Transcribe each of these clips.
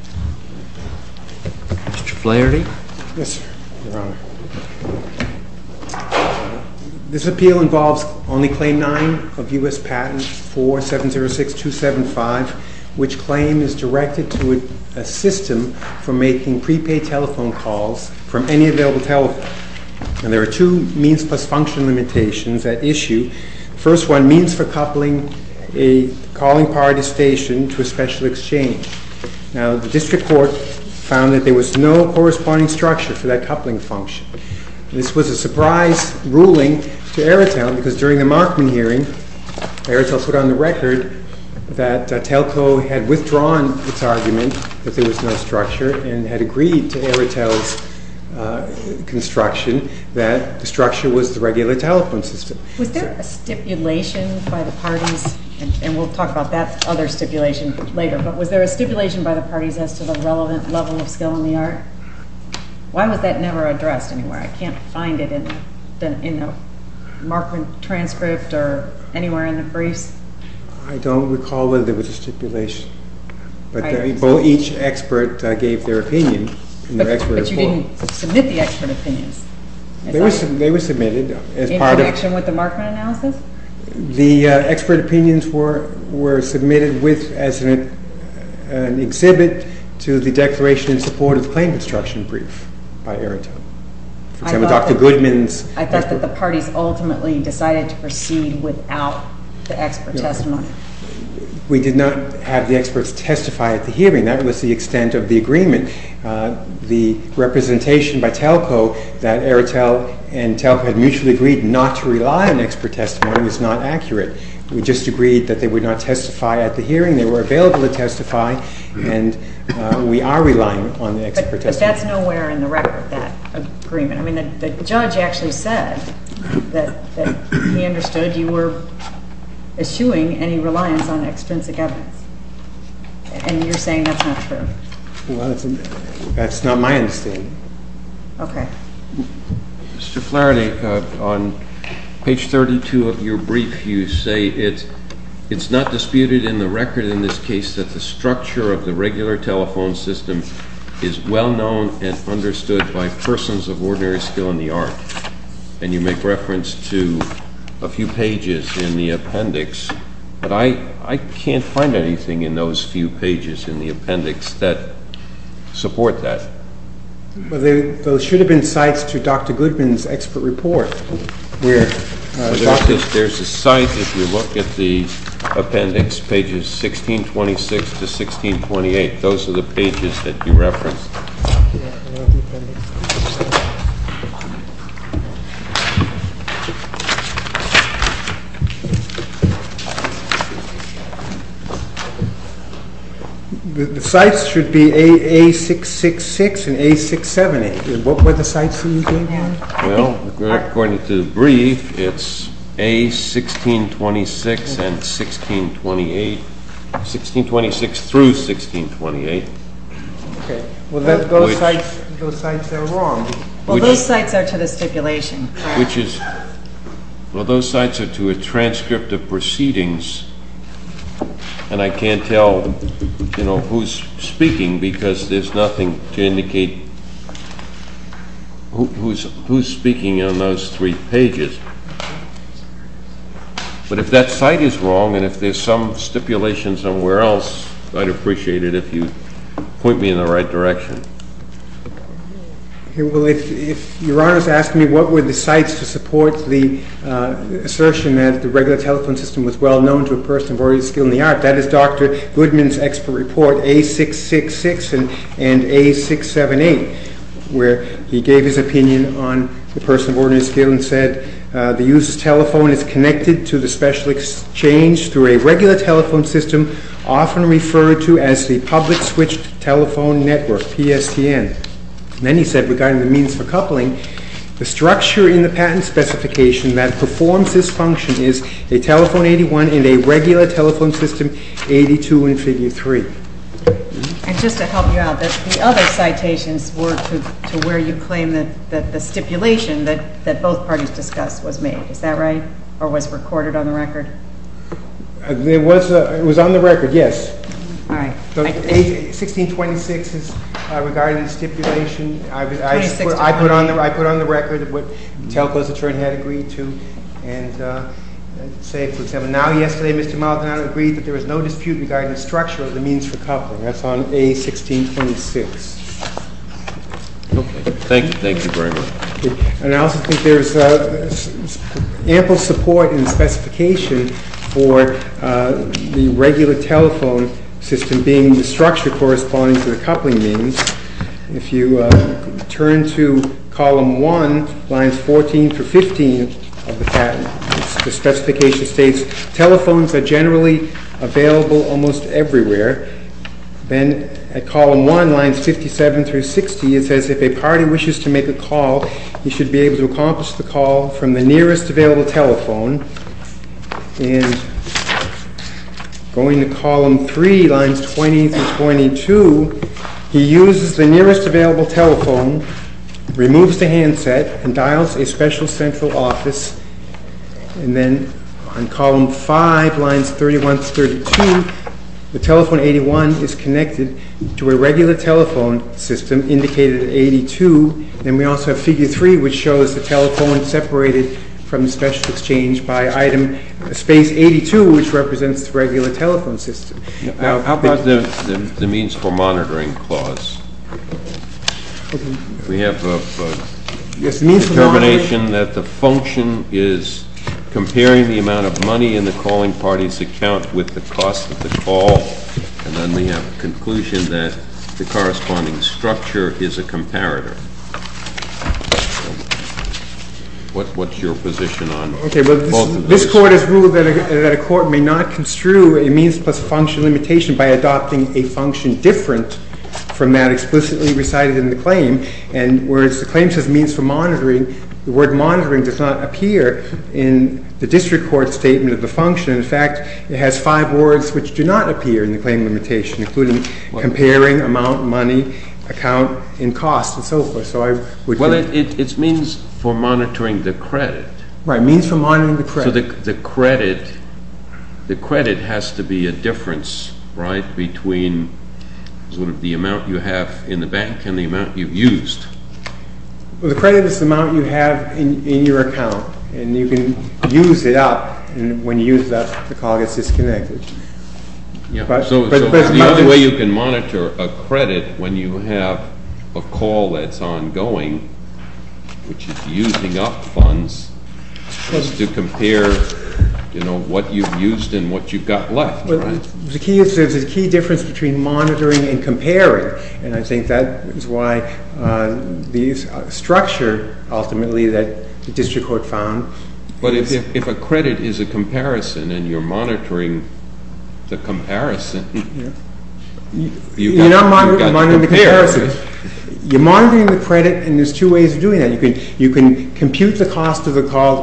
Mr. Flaherty. Yes, Your Honor. This appeal involves only Claim 9 of U.S. Patent 4706-275, which claim is directed to a system for making prepaid telephone calls from any available telephone. And there are two means plus function limitations at issue. First one means for the district court found that there was no corresponding structure for that coupling function. This was a surprise ruling to AEROTEL because during the Markman hearing, AEROTEL put on the record that TELCO had withdrawn its argument that there was no structure and had agreed to AEROTEL's construction that the structure was the regular telephone system. Was there a stipulation by the parties, and we'll talk about that other stipulation later, but was there a stipulation by the parties as to the relevant level of skill in the art? Why was that never addressed anywhere? I can't find it in the Markman transcript or anywhere in the briefs. I don't recall whether there was a stipulation, but each expert gave their opinion. But you didn't submit the expert opinions. They were submitted. In connection with the Markman analysis? The expert opinions were submitted as an exhibit to the declaration in support of the claim construction brief by AEROTEL. I thought that the parties ultimately decided to proceed without the expert testimony. We did not have the experts testify at the hearing. That was the extent of the agreement. The representation by TELCO that AEROTEL and AEROTEL rely on expert testimony is not accurate. We just agreed that they would not testify at the hearing. They were available to testify, and we are relying on the expert testimony. But that's nowhere in the record, that agreement. I mean, the judge actually said that he understood you were eschewing any reliance on extrinsic evidence, and you're saying that's not true. Well, that's not my understanding. Okay. Mr. Flaherty, on page 32 of your brief, you say it's not disputed in the record in this case that the structure of the regular telephone system is well known and understood by persons of ordinary skill in the art. And you make reference to a few pages in the appendix, but I can't find anything in those few pages in the appendix that support that. Well, those should have been sites to Dr. Goodman's expert report. There's a site. If you look at the appendix, pages 1626 to 1628, those are the pages that you referenced. Okay. I'm going to go back to the appendix. I'm going to go back to the appendix. Okay. The sites should be A666 and A670. What were the sites that you gave me? Well, according to the brief, it's A1626 and 1628, 1626 through 1628. Okay. Well, those sites are wrong. Well, those sites are to the stipulation. Well, those sites are to a transcript of proceedings, and I can't tell, you know, who's speaking because there's nothing to indicate who's speaking on those three pages. But if that site is wrong and if there's some stipulation somewhere else, I'd appreciate it if you'd point me in the right direction. Okay. Well, if Your Honor is asking me what were the sites to support the assertion that the regular telephone system was well-known to a person of ordinary skill in the art, that is Dr. Goodman's expert report, A666 and A678, where he gave his opinion on the person of ordinary skill and said, the user's telephone is connected to the special exchange through a regular telephone system often referred to as the public switched telephone network, PSTN. Then he said regarding the means for coupling, the structure in the patent specification that performs this function is a telephone 81 and a regular telephone system 82 and figure 3. And just to help you out, the other citations were to where you claim that the stipulation that both parties discussed was made. Is that right? Or was it recorded on the record? It was on the record, yes. All right. A1626 is regarding stipulation. I put on the record what Telco's attorney had agreed to and say, for example, now, yesterday, Mr. Maldonado agreed that there is no dispute regarding the structure of the means for coupling. That's on A1626. Okay. Thank you. Thank you very much. And I also think there's ample support in the specification for the regular telephone system being the structure corresponding to the coupling means. If you turn to column 1, lines 14 through 15 of the patent, the specification states telephones are generally available almost everywhere. Then at column 1, lines 57 through 60, it says if a party wishes to make a call, he should be able to accomplish the call from the nearest available telephone. And going to column 3, lines 20 through 22, he uses the nearest available telephone, removes the handset, and dials a special central office. And then on column 5, lines 31 through 32, the telephone 81 is connected to a regular telephone system indicated at 82. And we also have figure 3, which shows the telephone separated from the special exchange by item space 82, which represents the regular telephone system. Now, how about the means for monitoring clause? We have a determination that the function is comparing the amount of money in the calling party's account with the cost of the call. And then we have a conclusion that the corresponding structure is a comparator. What's your position on both of those? Okay. Well, this Court has ruled that a court may not construe a means plus function limitation by adopting a function different from that explicitly recited in the claim. And whereas the claim says means for monitoring, the word monitoring does not appear in the district court statement of the function. In fact, it has five words which do not appear in the claim limitation, including comparing, amount, money, account, and cost, and so forth. Well, it means for monitoring the credit. Right. Means for monitoring the credit. So the credit has to be a difference, right, between sort of the amount you have in the bank and the amount you've used. Well, the credit is the amount you have in your account, and you can use it up. And when you use it up, the call gets disconnected. Yeah. So the only way you can monitor a credit when you have a call that's ongoing, which is using up funds, is to compare, you know, what you've used and what you've got left, right? Well, the key is there's a key difference between monitoring and comparing, and I think that is why these structure ultimately that the district court found. But if a credit is a comparison and you're monitoring the comparison, you've got to compare. You're not monitoring the comparison. You're monitoring the credit, and there's two ways of doing that. You can compute the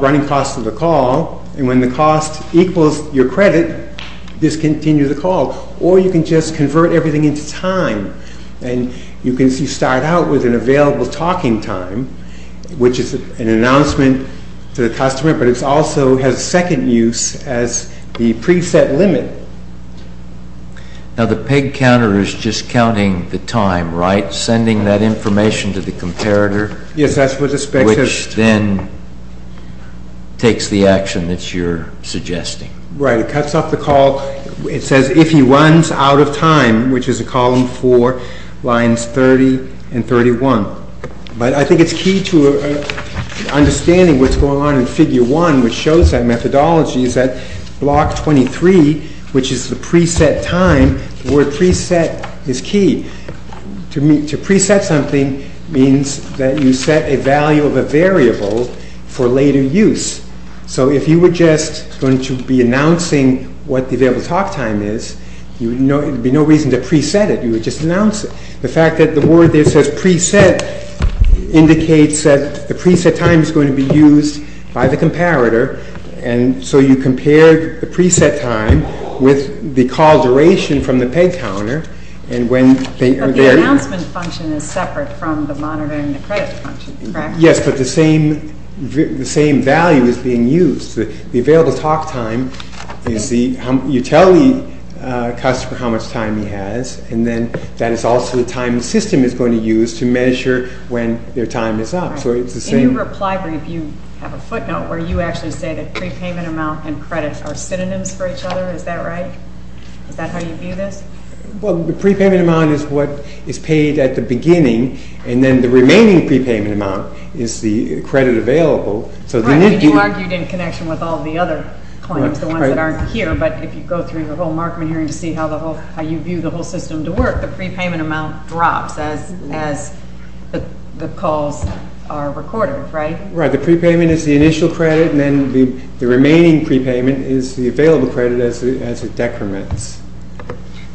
running cost of the call, and when the cost equals your credit, discontinue the call. Or you can just convert everything into time, and you can start out with an available talking time, which is an announcement to the customer, but it also has a second use as the preset limit. Now, the peg counter is just counting the time, right? Sending that information to the comparator. Yes, that's what the spec says. Which then takes the action that you're suggesting. Right. It cuts off the call. It says if he runs out of time, which is a column four, lines 30 and 31. But I think it's key to understanding what's going on in figure one, which shows that methodology is that block 23, which is the preset time, the word preset is key. To preset something means that you set a value of a variable for later use. So if you were just going to be announcing what the available talk time is, there'd be no reason to preset it. You would just announce it. The fact that the word there says preset indicates that the preset time is going to be used by the comparator, and so you compare the preset time with the call duration from the peg counter. But the announcement function is separate from the monitoring the credit function, correct? Yes, but the same value is being used. The available talk time is the, you tell the customer how much time he has, and then that is also the time the system is going to use to measure when their time is up. So it's the same. In your reply brief, you have a footnote where you actually say that prepayment amount and credit are synonyms for each other. Is that right? Is that how you view this? Well, the prepayment amount is what is paid at the beginning, and then the remaining prepayment amount is the credit available. Right, and you argued in connection with all the other claims, the ones that aren't here, but if you go through the whole Markman hearing to see how you view the whole system to work, the prepayment amount drops as the calls are recorded, right? Right, the prepayment is the initial credit, and then the remaining prepayment is the available credit as it decrements.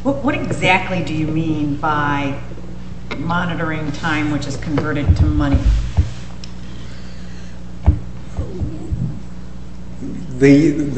What exactly do you mean by monitoring time which is converted to money? Well, you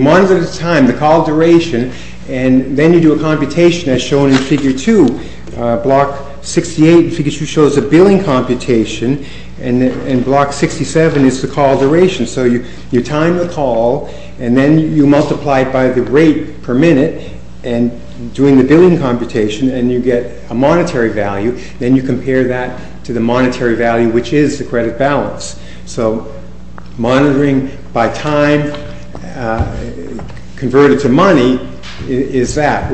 monitor the time, the call duration, and then you do a computation as shown in figure two. Block 68 in figure two shows a billing computation, and block 67 is the call duration. So you time the call, and then you multiply it by the rate per minute, and doing the billing computation, and you get a monetary value. Then you compare that to the monetary value, which is the credit balance. So monitoring by time converted to money is that.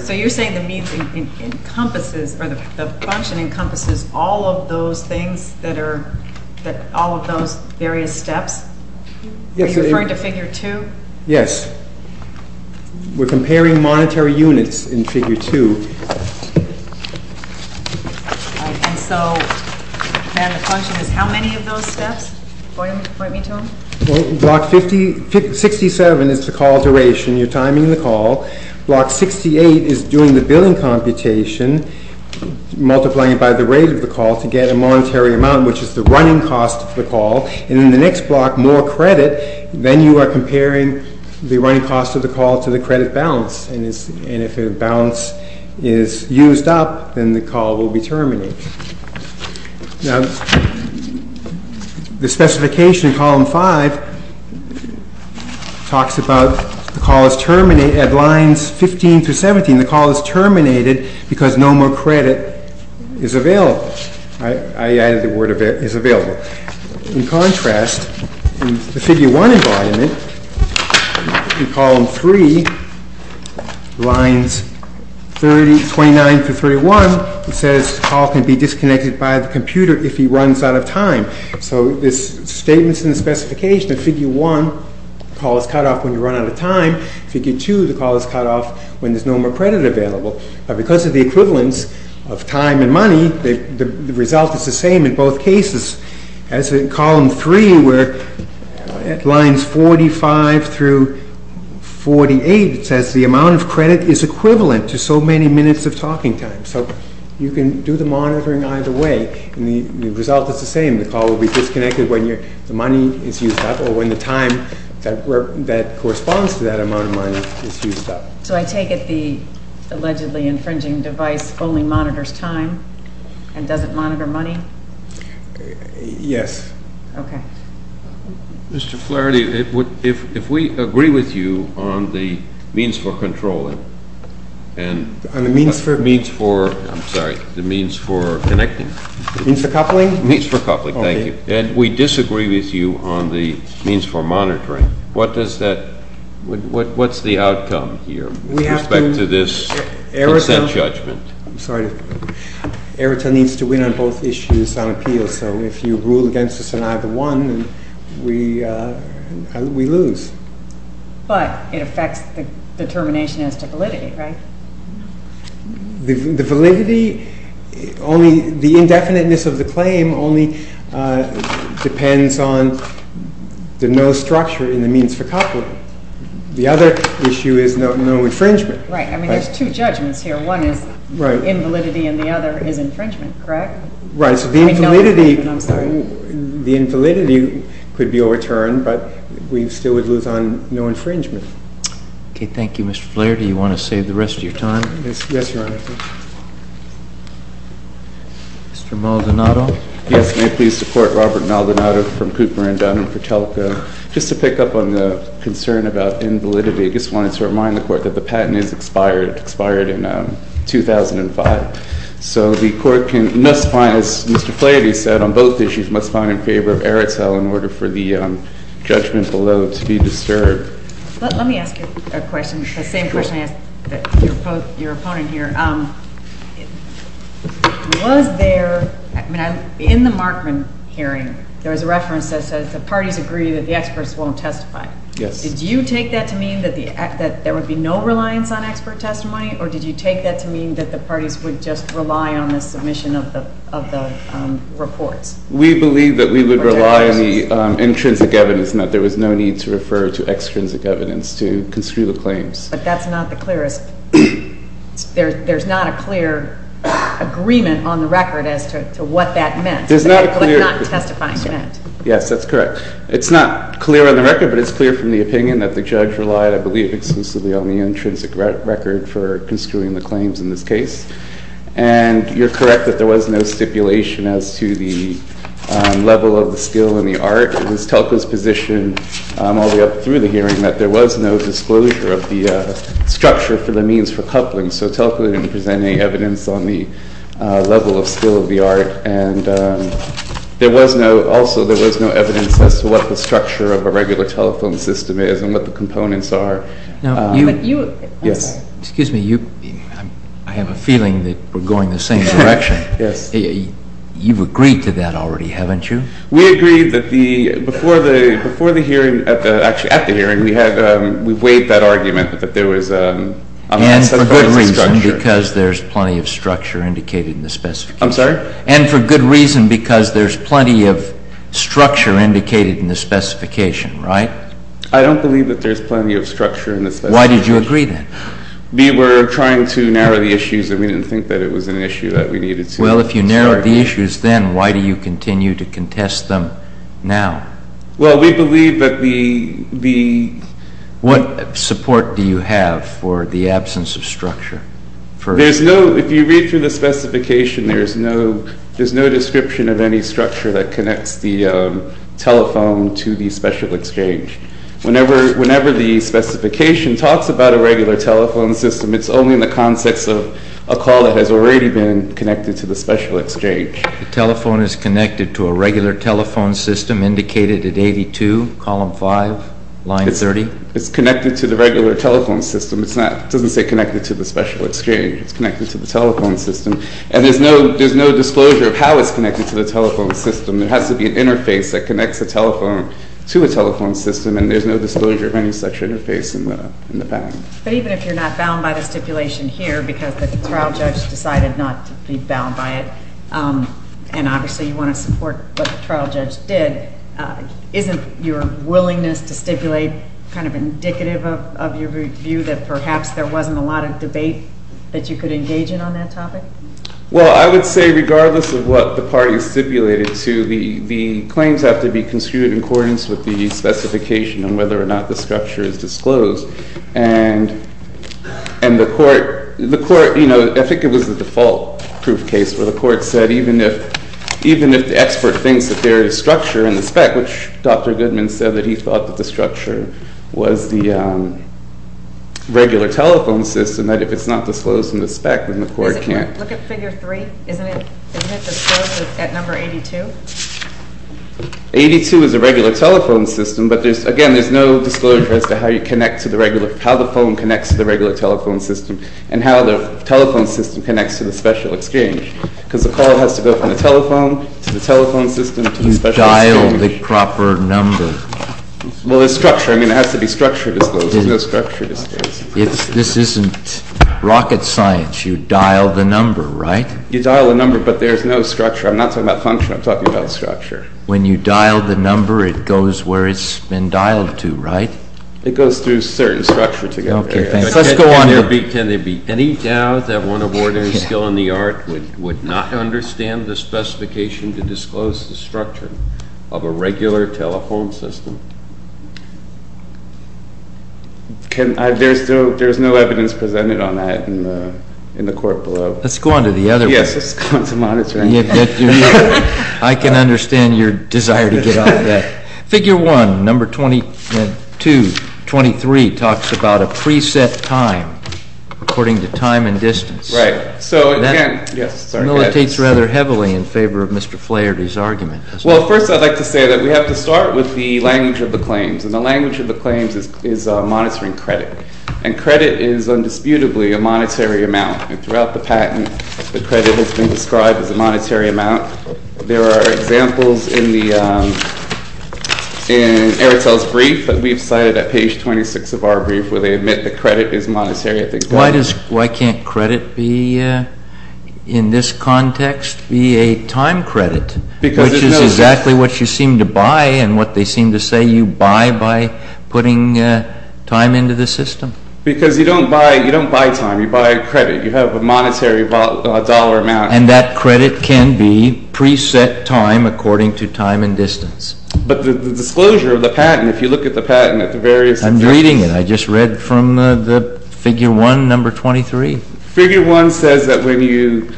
So you're saying the function encompasses all of those things, all of those various steps? Are you referring to figure two? Yes. We're comparing monetary units in figure two. And so then the function is how many of those steps? Point me to them. Well, block 57 is the call duration. You're timing the call. Block 68 is doing the billing computation, multiplying it by the rate of the call to get a monetary amount, which is the running cost of the call. And in the next block, more credit, then you are comparing the running cost of the call to the credit balance. And if the balance is used up, then the call will be terminated. Now, the specification in column five talks about the call is terminated at lines 15 through 17. The call is terminated because no more credit is available. I added the word is available. In contrast, in the figure one environment, in column three, lines 29 through 31, it says the call can be disconnected by the computer if he runs out of time. So this statement is in the specification. In figure one, the call is cut off when you run out of time. In figure two, the call is cut off when there's no more credit available. But because of the equivalence of time and money, the result is the same in both cases. As in column three, where at lines 45 through 48, it says the amount of credit is equivalent to so many minutes of talking time. So you can do the monitoring either way, and the result is the same. The call will be disconnected when the money is used up or when the time that corresponds to that amount of money is used up. So I take it the allegedly infringing device only monitors time and doesn't monitor money? Yes. Okay. Mr. Flaherty, if we agree with you on the means for controlling and the means for, I'm sorry, the means for connecting. Means for coupling? Means for coupling, thank you. And we disagree with you on the means for monitoring. What does that, what's the outcome here with respect to this consent judgment? I'm sorry. Eritrea needs to win on both issues on appeal. So if you rule against us on either one, we lose. But it affects the determination as to validity, right? The validity, only the indefiniteness of the claim only depends on the no structure in the means for coupling. The other issue is no infringement. Right. I mean, there's two judgments here. One is invalidity and the other is infringement, correct? Right. So the invalidity could be overturned, but we still would lose on no infringement. Okay. Thank you, Mr. Flaherty. You want to save the rest of your time? Yes, Your Honor. Mr. Maldonado? Yes, may it please the Court, Robert Maldonado from Cooper and Dunn and Fratelco. Just to pick up on the concern about invalidity, I just wanted to remind the Court that the patent is expired, expired in 2005. So the Court can, must find, as Mr. Flaherty said, on both issues must find in favor of Eritrea in order for the judgment below to be disturbed. Let me ask you a question, the same question I asked your opponent here. Was there, in the Markman hearing, there was a reference that says the parties agree that the experts won't testify. Yes. Did you take that to mean that there would be no reliance on expert testimony or did you take that to mean that the parties would just rely on the submission of the reports? We believe that we would rely on the intrinsic evidence and that there was no need to refer to extrinsic evidence to construe the claims. But that's not the clearest, there's not a clear agreement on the record as to what that meant, what not testifying meant. Yes, that's correct. It's not clear on the record, but it's clear from the opinion that the judge relied, I believe, exclusively on the intrinsic record for construing the claims in this case. And you're correct that there was no stipulation as to the level of the skill and the art. It was Telco's position all the way up through the hearing that there was no disclosure of the structure for the means for coupling, so Telco didn't present any evidence on the level of skill of the art. And there was no, also there was no evidence as to what the structure of a regular telephone system is and what the components are. Yes. Excuse me, I have a feeling that we're going the same direction. Yes. You've agreed to that already, haven't you? We agreed that the, before the hearing, actually at the hearing, we weighed that argument that there was a structure. And for good reason, because there's plenty of structure indicated in the specification. I'm sorry? And for good reason, because there's plenty of structure indicated in the specification, right? I don't believe that there's plenty of structure in the specification. Why did you agree then? We were trying to narrow the issues and we didn't think that it was an issue that we needed to start with. Well, if you narrowed the issues then, why do you continue to contest them now? Well, we believe that the... What support do you have for the absence of structure? There's no, if you read through the specification, there's no description of any structure that connects the telephone to the special exchange. Whenever the specification talks about a regular telephone system, it's only in the context of a call that has already been indicated. So a regular telephone system indicated at 82, column 5, line 30? It's connected to the regular telephone system. It's not, it doesn't say connected to the special exchange. It's connected to the telephone system. And there's no, there's no disclosure of how it's connected to the telephone system. There has to be an interface that connects the telephone to a telephone system and there's no disclosure of any such interface in the, in the bound. But even if you're not bound by the stipulation here, because the trial judge decided not to be bound by it, and obviously you want to support what the trial judge did, isn't your willingness to stipulate kind of indicative of, of your view that perhaps there wasn't a lot of debate that you could engage in on that topic? Well, I would say regardless of what the party is stipulated to, the, the claims have to be construed in accordance with the specification and whether or not the proof case where the court said even if, even if the expert thinks that there is structure in the spec, which Dr. Goodman said that he thought that the structure was the regular telephone system, that if it's not disclosed in the spec, then the court can't. Look at figure 3. Isn't it, isn't it disclosed at number 82? 82 is a regular telephone system, but there's, again, there's no disclosure as to how you connect to the regular, how the phone connects to the regular telephone system, and how the telephone system connects to the special exchange, because the call has to go from the telephone to the telephone system to the special exchange. You dial the proper number. Well, there's structure. I mean, it has to be structured as though there's no structure disclosed. It's, this isn't rocket science. You dial the number, right? You dial the number, but there's no structure. I'm not talking about function. I'm talking about structure. When you dial the number, it goes where it's been dialed to, right? It goes through certain structure together. Okay, let's go on. Can there be any doubt that one of ordinary skill in the art would not understand the specification to disclose the structure of a regular telephone system? Can I, there's no, there's no evidence presented on that in the court below. Let's go on to the other. Yes, let's go on to monitoring. I can understand your desire to get off that. Figure one, number 22, 23, talks about a preset time according to time and distance. Right, so again, yes, sorry. That militates rather heavily in favor of Mr. Flaherty's argument. Well, first I'd like to say that we have to start with the language of the claims, and the language of the claims is monitoring credit, and credit is undisputably a monetary amount, and throughout the patent, the credit has been described as a monetary amount. There are examples in the, in Airtel's brief that we've cited at page 26 of our brief, where they admit the credit is monetary, I think. Why does, why can't credit be, in this context, be a time credit, which is exactly what you seem to buy, and what they seem to say you buy by putting time into the system? Because you don't buy, you don't buy time, you buy credit, you have a monetary dollar amount. And that credit can be preset time according to time and distance. But the disclosure of the patent, if you look at the patent at the various subjects. I'm reading it, I just read from the figure one, number 23. Figure one says that when you,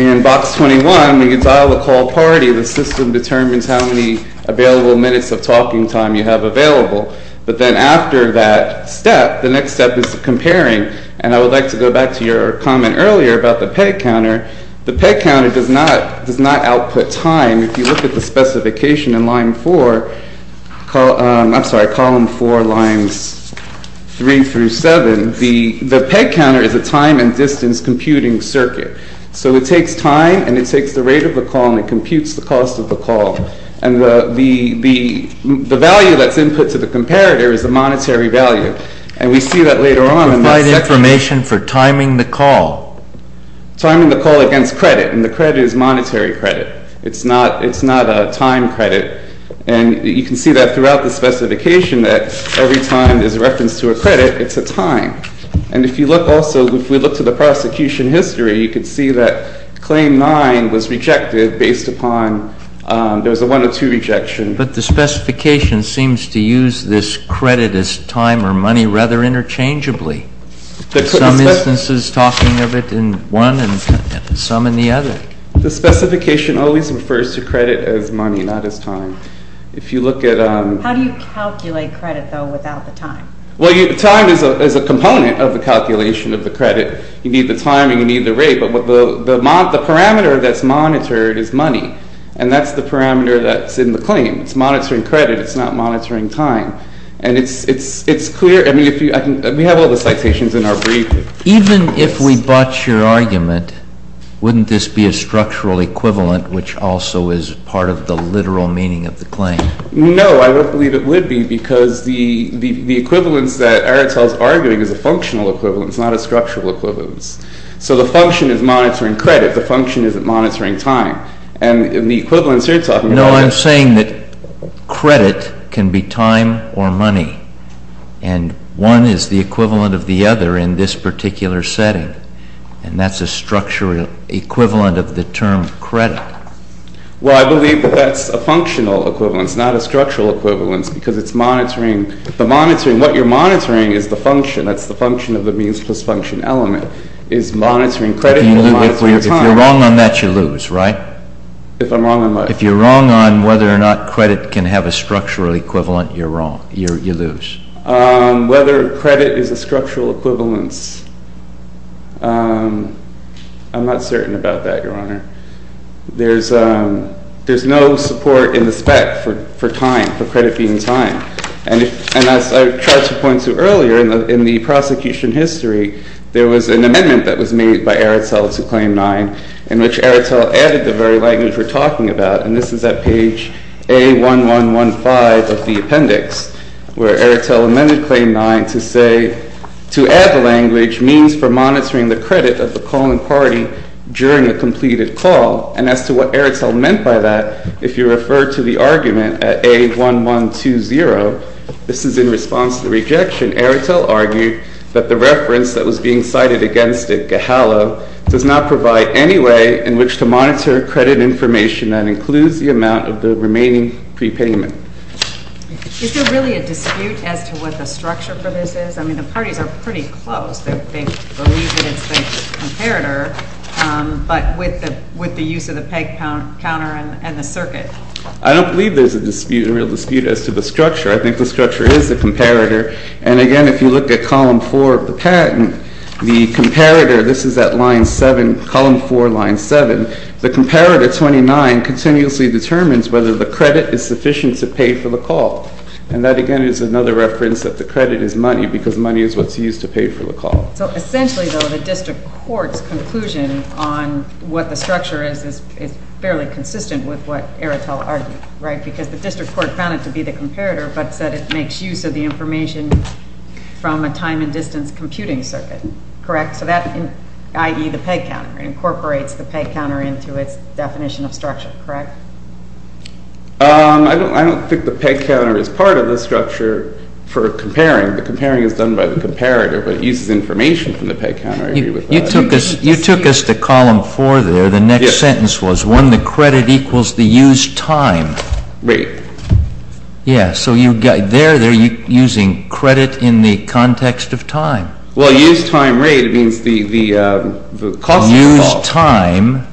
in box 21, when you dial a call party, the system determines how many available minutes of talking time you have available, but then after that step, the next step is comparing. And I would like to go back to your comment earlier about the peg counter. The peg counter does not, does not output time. If you look at the specification in line four, I'm sorry, column four, lines three through seven, the peg counter is a time and distance computing circuit. So it takes time, and it takes the rate of the call, and it computes the cost of the call. And the value that's input to the comparator is the monetary value. And we see that later on in the section. Provide information for timing the call. Timing the call against credit. And the credit is monetary credit. It's not, it's not a time credit. And you can see that throughout the specification that every time there's a reference to a credit, it's a time. And if you look also, if we look to the prosecution history, you can see that claim nine was rejected based upon, there was a 102 rejection. But the specification seems to use this credit as time or money rather interchangeably. Some instances talking of it in one and some in the other. The specification always refers to credit as money, not as time. If you look at... How do you calculate credit, though, without the time? Well, time is a component of the calculation of the credit. You need the time and you need the rate. But the parameter that's monitored is money. And that's the parameter that's in the claim. It's monitoring credit. It's not monitoring time. And it's, it's, it's clear. I mean, if you, I can, we have all the citations in our brief. Even if we botch your argument, wouldn't this be a structural equivalent, which also is part of the literal meaning of the claim? No, I don't believe it would be because the, the, the equivalence that Aretel's arguing is a functional equivalence, not a structural equivalence. So the function is monitoring credit. The function isn't monitoring time. And the equivalence you're talking about... I'm saying that credit can be time or money. And one is the equivalent of the other in this particular setting. And that's a structural equivalent of the term credit. Well, I believe that that's a functional equivalence, not a structural equivalence, because it's monitoring, the monitoring, what you're monitoring is the function. That's the function of the means plus function element, is monitoring credit and monitoring time. If you're wrong on that, you lose, right? If I'm wrong on what? If you're wrong on whether or not credit can have a structural equivalent, you're wrong, you lose. Whether credit is a structural equivalence, I'm not certain about that, Your Honor. There's, there's no support in the spec for, for time, for credit being time. And, and as I tried to point to earlier in the, in the prosecution history, there was an amendment that was made by Aretel to Claim 9, in which Aretel added the very language we're talking about. And this is at page A1115 of the appendix, where Aretel amended Claim 9 to say, to add the language means for monitoring the credit of the calling party during a completed call. And as to what Aretel meant by that, if you refer to the argument at A1120, this is in response to the rejection. Aretel argued that the reference that was being cited against it, Gehalo, does not provide any way in which to monitor credit information that includes the amount of the remaining prepayment. Is there really a dispute as to what the structure for this is? I mean, the parties are pretty close. They, they believe that it's the comparator, but with the, with the use of the peg count, counter and, and the circuit. I don't believe there's a dispute, a real dispute as to the structure. I think the structure is the comparator. And again, if you look at column four of the patent, the comparator, this is at line seven, column four, line seven, the comparator 29 continuously determines whether the credit is sufficient to pay for the call. And that again is another reference that the credit is money because money is what's used to pay for the call. So essentially though, the district court's conclusion on what the structure is, is, is fairly consistent with what Aretel argued, right? Because the district court found it to be the comparator, but said it makes use of the information from a time and distance computing circuit, correct? So that, i.e. the peg counter incorporates the peg counter into its definition of structure, correct? Um, I don't, I don't think the peg counter is part of the structure for comparing. The comparing is done by the comparator, but it uses information from the peg counter. I agree with that. You took us, you took us to column four there. The next sentence was when the credit equals the used time rate. Yeah. So you got there, they're using credit in the context of time. Well, used time rate means the, the, um, the cost. Used time.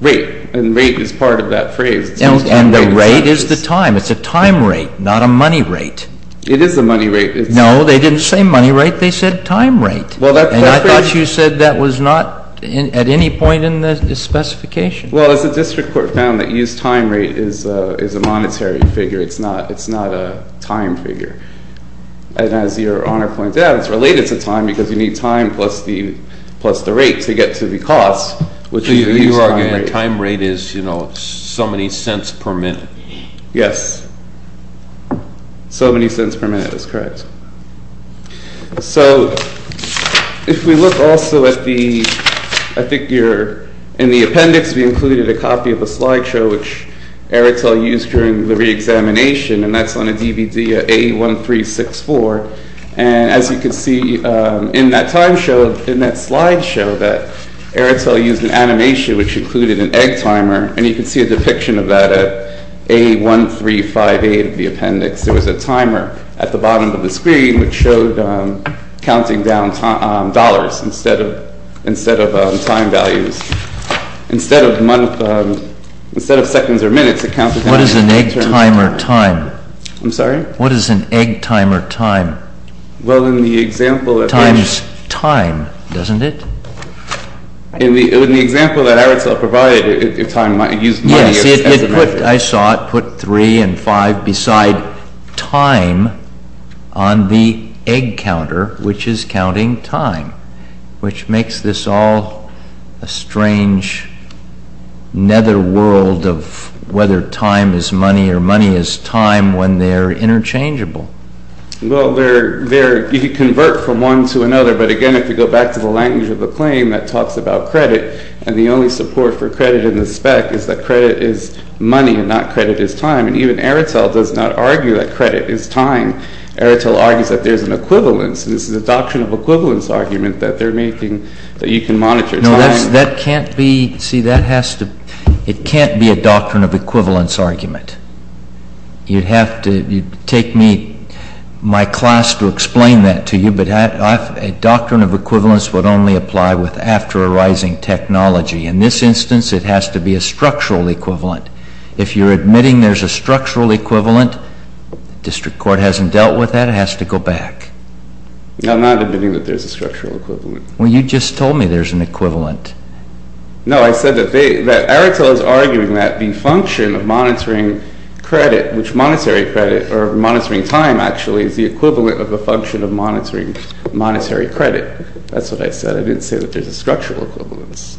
Rate. And rate is part of that phrase. And the rate is the time. It's a time rate, not a money rate. It is a money rate. No, they didn't say money rate. They said time rate. Well, that's. And I thought you said that was not at any point in the specification. Well, as the district court found that used time rate is, uh, is a monetary figure. It's not, it's not a time figure. And as your honor points out, it's related to time because you need time plus the, plus the rate to get to the cost. Which you argue the time rate is, you know, so many cents per minute. Yes. So many cents per minute is correct. So if we look also at the, I think you're in the appendix, we included a copy of a slideshow, which Airtel used during the re-examination. And that's on a DVD, A1364. And as you can see in that time show, in that slideshow that Airtel used an animation, which included an egg timer. And you can see a depiction of that at A1358 of the appendix. There was a timer at the bottom of the screen, which showed counting down dollars instead of, instead of time values. Instead of month, um, instead of seconds or minutes, it counted. What is an egg timer time? I'm sorry? What is an egg timer time? Well, in the example that. Times time, doesn't it? In the, in the example that Airtel provided, if time might use money as a measure. I saw it put three and five beside time on the egg counter, which is counting time. Which makes this all a strange. Netherworld of whether time is money or money is time when they're interchangeable. Well, they're, they're, you convert from one to another. But again, if you go back to the language of the claim that talks about credit. And the only support for credit in the spec is that credit is money and not credit is time. And even Airtel does not argue that credit is time. Airtel argues that there's an equivalence. This is a doctrine of equivalence argument that they're making that you can monitor. No, that's, that can't be, see that has to, it can't be a doctrine of equivalence argument. You'd have to, you'd take me, my class to explain that to you. But I, I, a doctrine of equivalence would only apply with after arising technology. In this instance, it has to be a structural equivalent. If you're admitting there's a structural equivalent, district court hasn't dealt with that, it has to go back. I'm not admitting that there's a structural equivalent. Well, you just told me there's an equivalent. No, I said that they, that Airtel is arguing that the function of monitoring credit, which monetary credit or monitoring time actually is the equivalent of a function of monitoring monetary credit. That's what I said. I didn't say that there's a structural equivalence.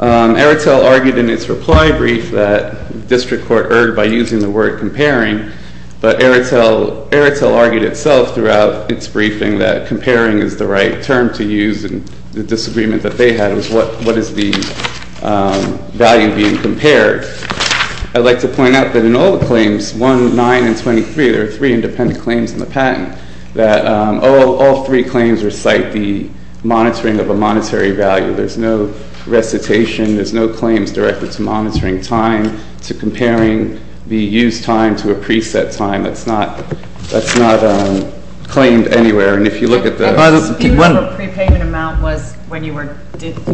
Um, Airtel argued in its reply brief that district court erred by using the word comparing, but Airtel, Airtel argued itself throughout its briefing that comparing is the right term to use and the disagreement that they had was what, what is the value being compared? I'd like to point out that in all the claims, 1, 9, and 23, there are three independent claims in the patent that, um, all, all three claims recite the monitoring of a monetary value. There's no recitation. There's no claims directed to monitoring time, to comparing the use time to a preset time. That's not, that's not, um, claimed anywhere. And if you look at the... The dispute over prepayment amount was, when you were,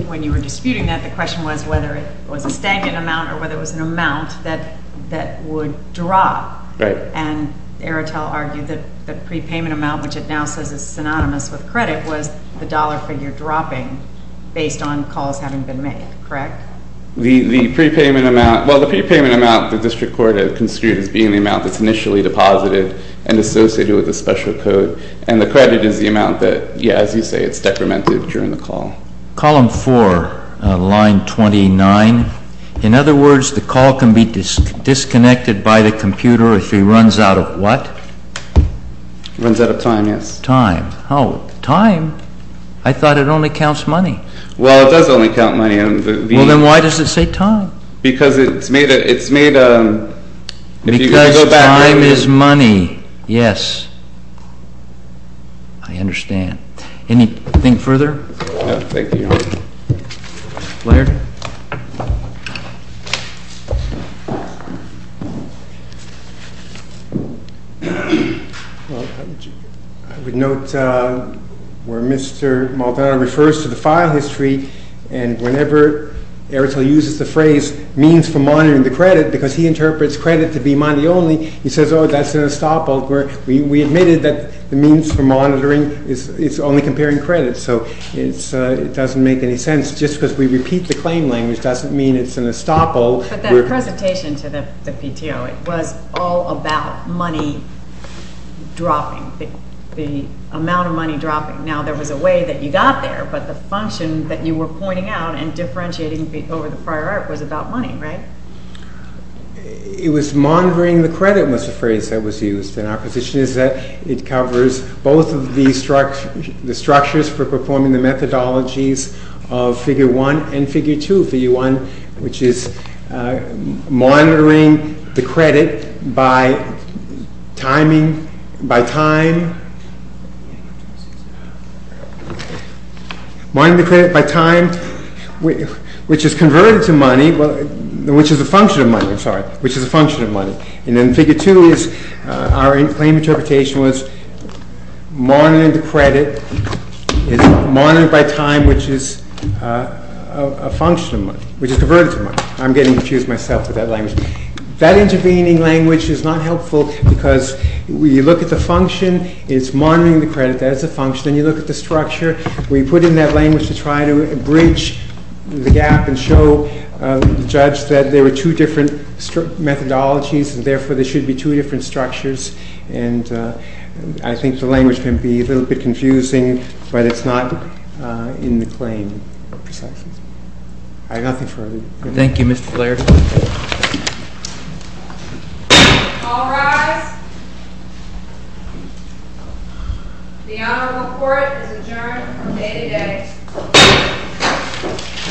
when you were disputing that, the was an amount that, that would drop. Right. And Airtel argued that the prepayment amount, which it now says is synonymous with credit, was the dollar figure dropping based on calls having been made. Correct? The, the prepayment amount, well, the prepayment amount, the district court has construed as being the amount that's initially deposited and associated with the special code. And the credit is the amount that, yeah, as you say, it's decremented during the call. Column four, uh, line 29. In other words, the call can be disconnected by the computer if he runs out of what? Runs out of time, yes. Time. Oh, time. I thought it only counts money. Well, it does only count money. Well, then why does it say time? Because it's made a, it's made a... Because time is money. Yes. I understand. Anything further? Thank you, Your Honor. Laird? Well, I would note, uh, where Mr. Maldonado refers to the file history and whenever Airtel uses the phrase means for monitoring the credit, because he interprets credit to be money only, he says, oh, that's an estoppel where we, we admitted that the means for monitoring is, is only comparing credit. So it's, uh, it doesn't make any sense just because we repeat the claim language doesn't mean it's an estoppel. But that presentation to the, the PTO, it was all about money dropping, the, the amount of money dropping. Now there was a way that you got there, but the function that you were pointing out and differentiating over the prior art was about money, right? It was monitoring the credit was a phrase that was used. And our position is that it covers both of these structures, the structures for performing the methodologies of figure one and figure two. Figure one, which is, uh, monitoring the credit by timing, by time, monitoring the credit by time, which is converted to money, which is a function of money, I'm sorry, which is a function of money. And then figure two is, uh, our claim interpretation was monitoring the credit is monitored by time, which is, uh, a function of money, which is converted to money. I'm getting confused myself with that language. That intervening language is not helpful because when you look at the function, it's monitoring the credit, that is a function. Then you look at the structure, we put in that language to try to bridge the gap and show, uh, the judge that there were two different methodologies and therefore there should be two different structures. And, uh, I think the language can be a little bit confusing, but it's not, uh, in the claim precisely. I have nothing further. Thank you, Mr. Blair. All rise. The Honorable Court is adjourned from day to day.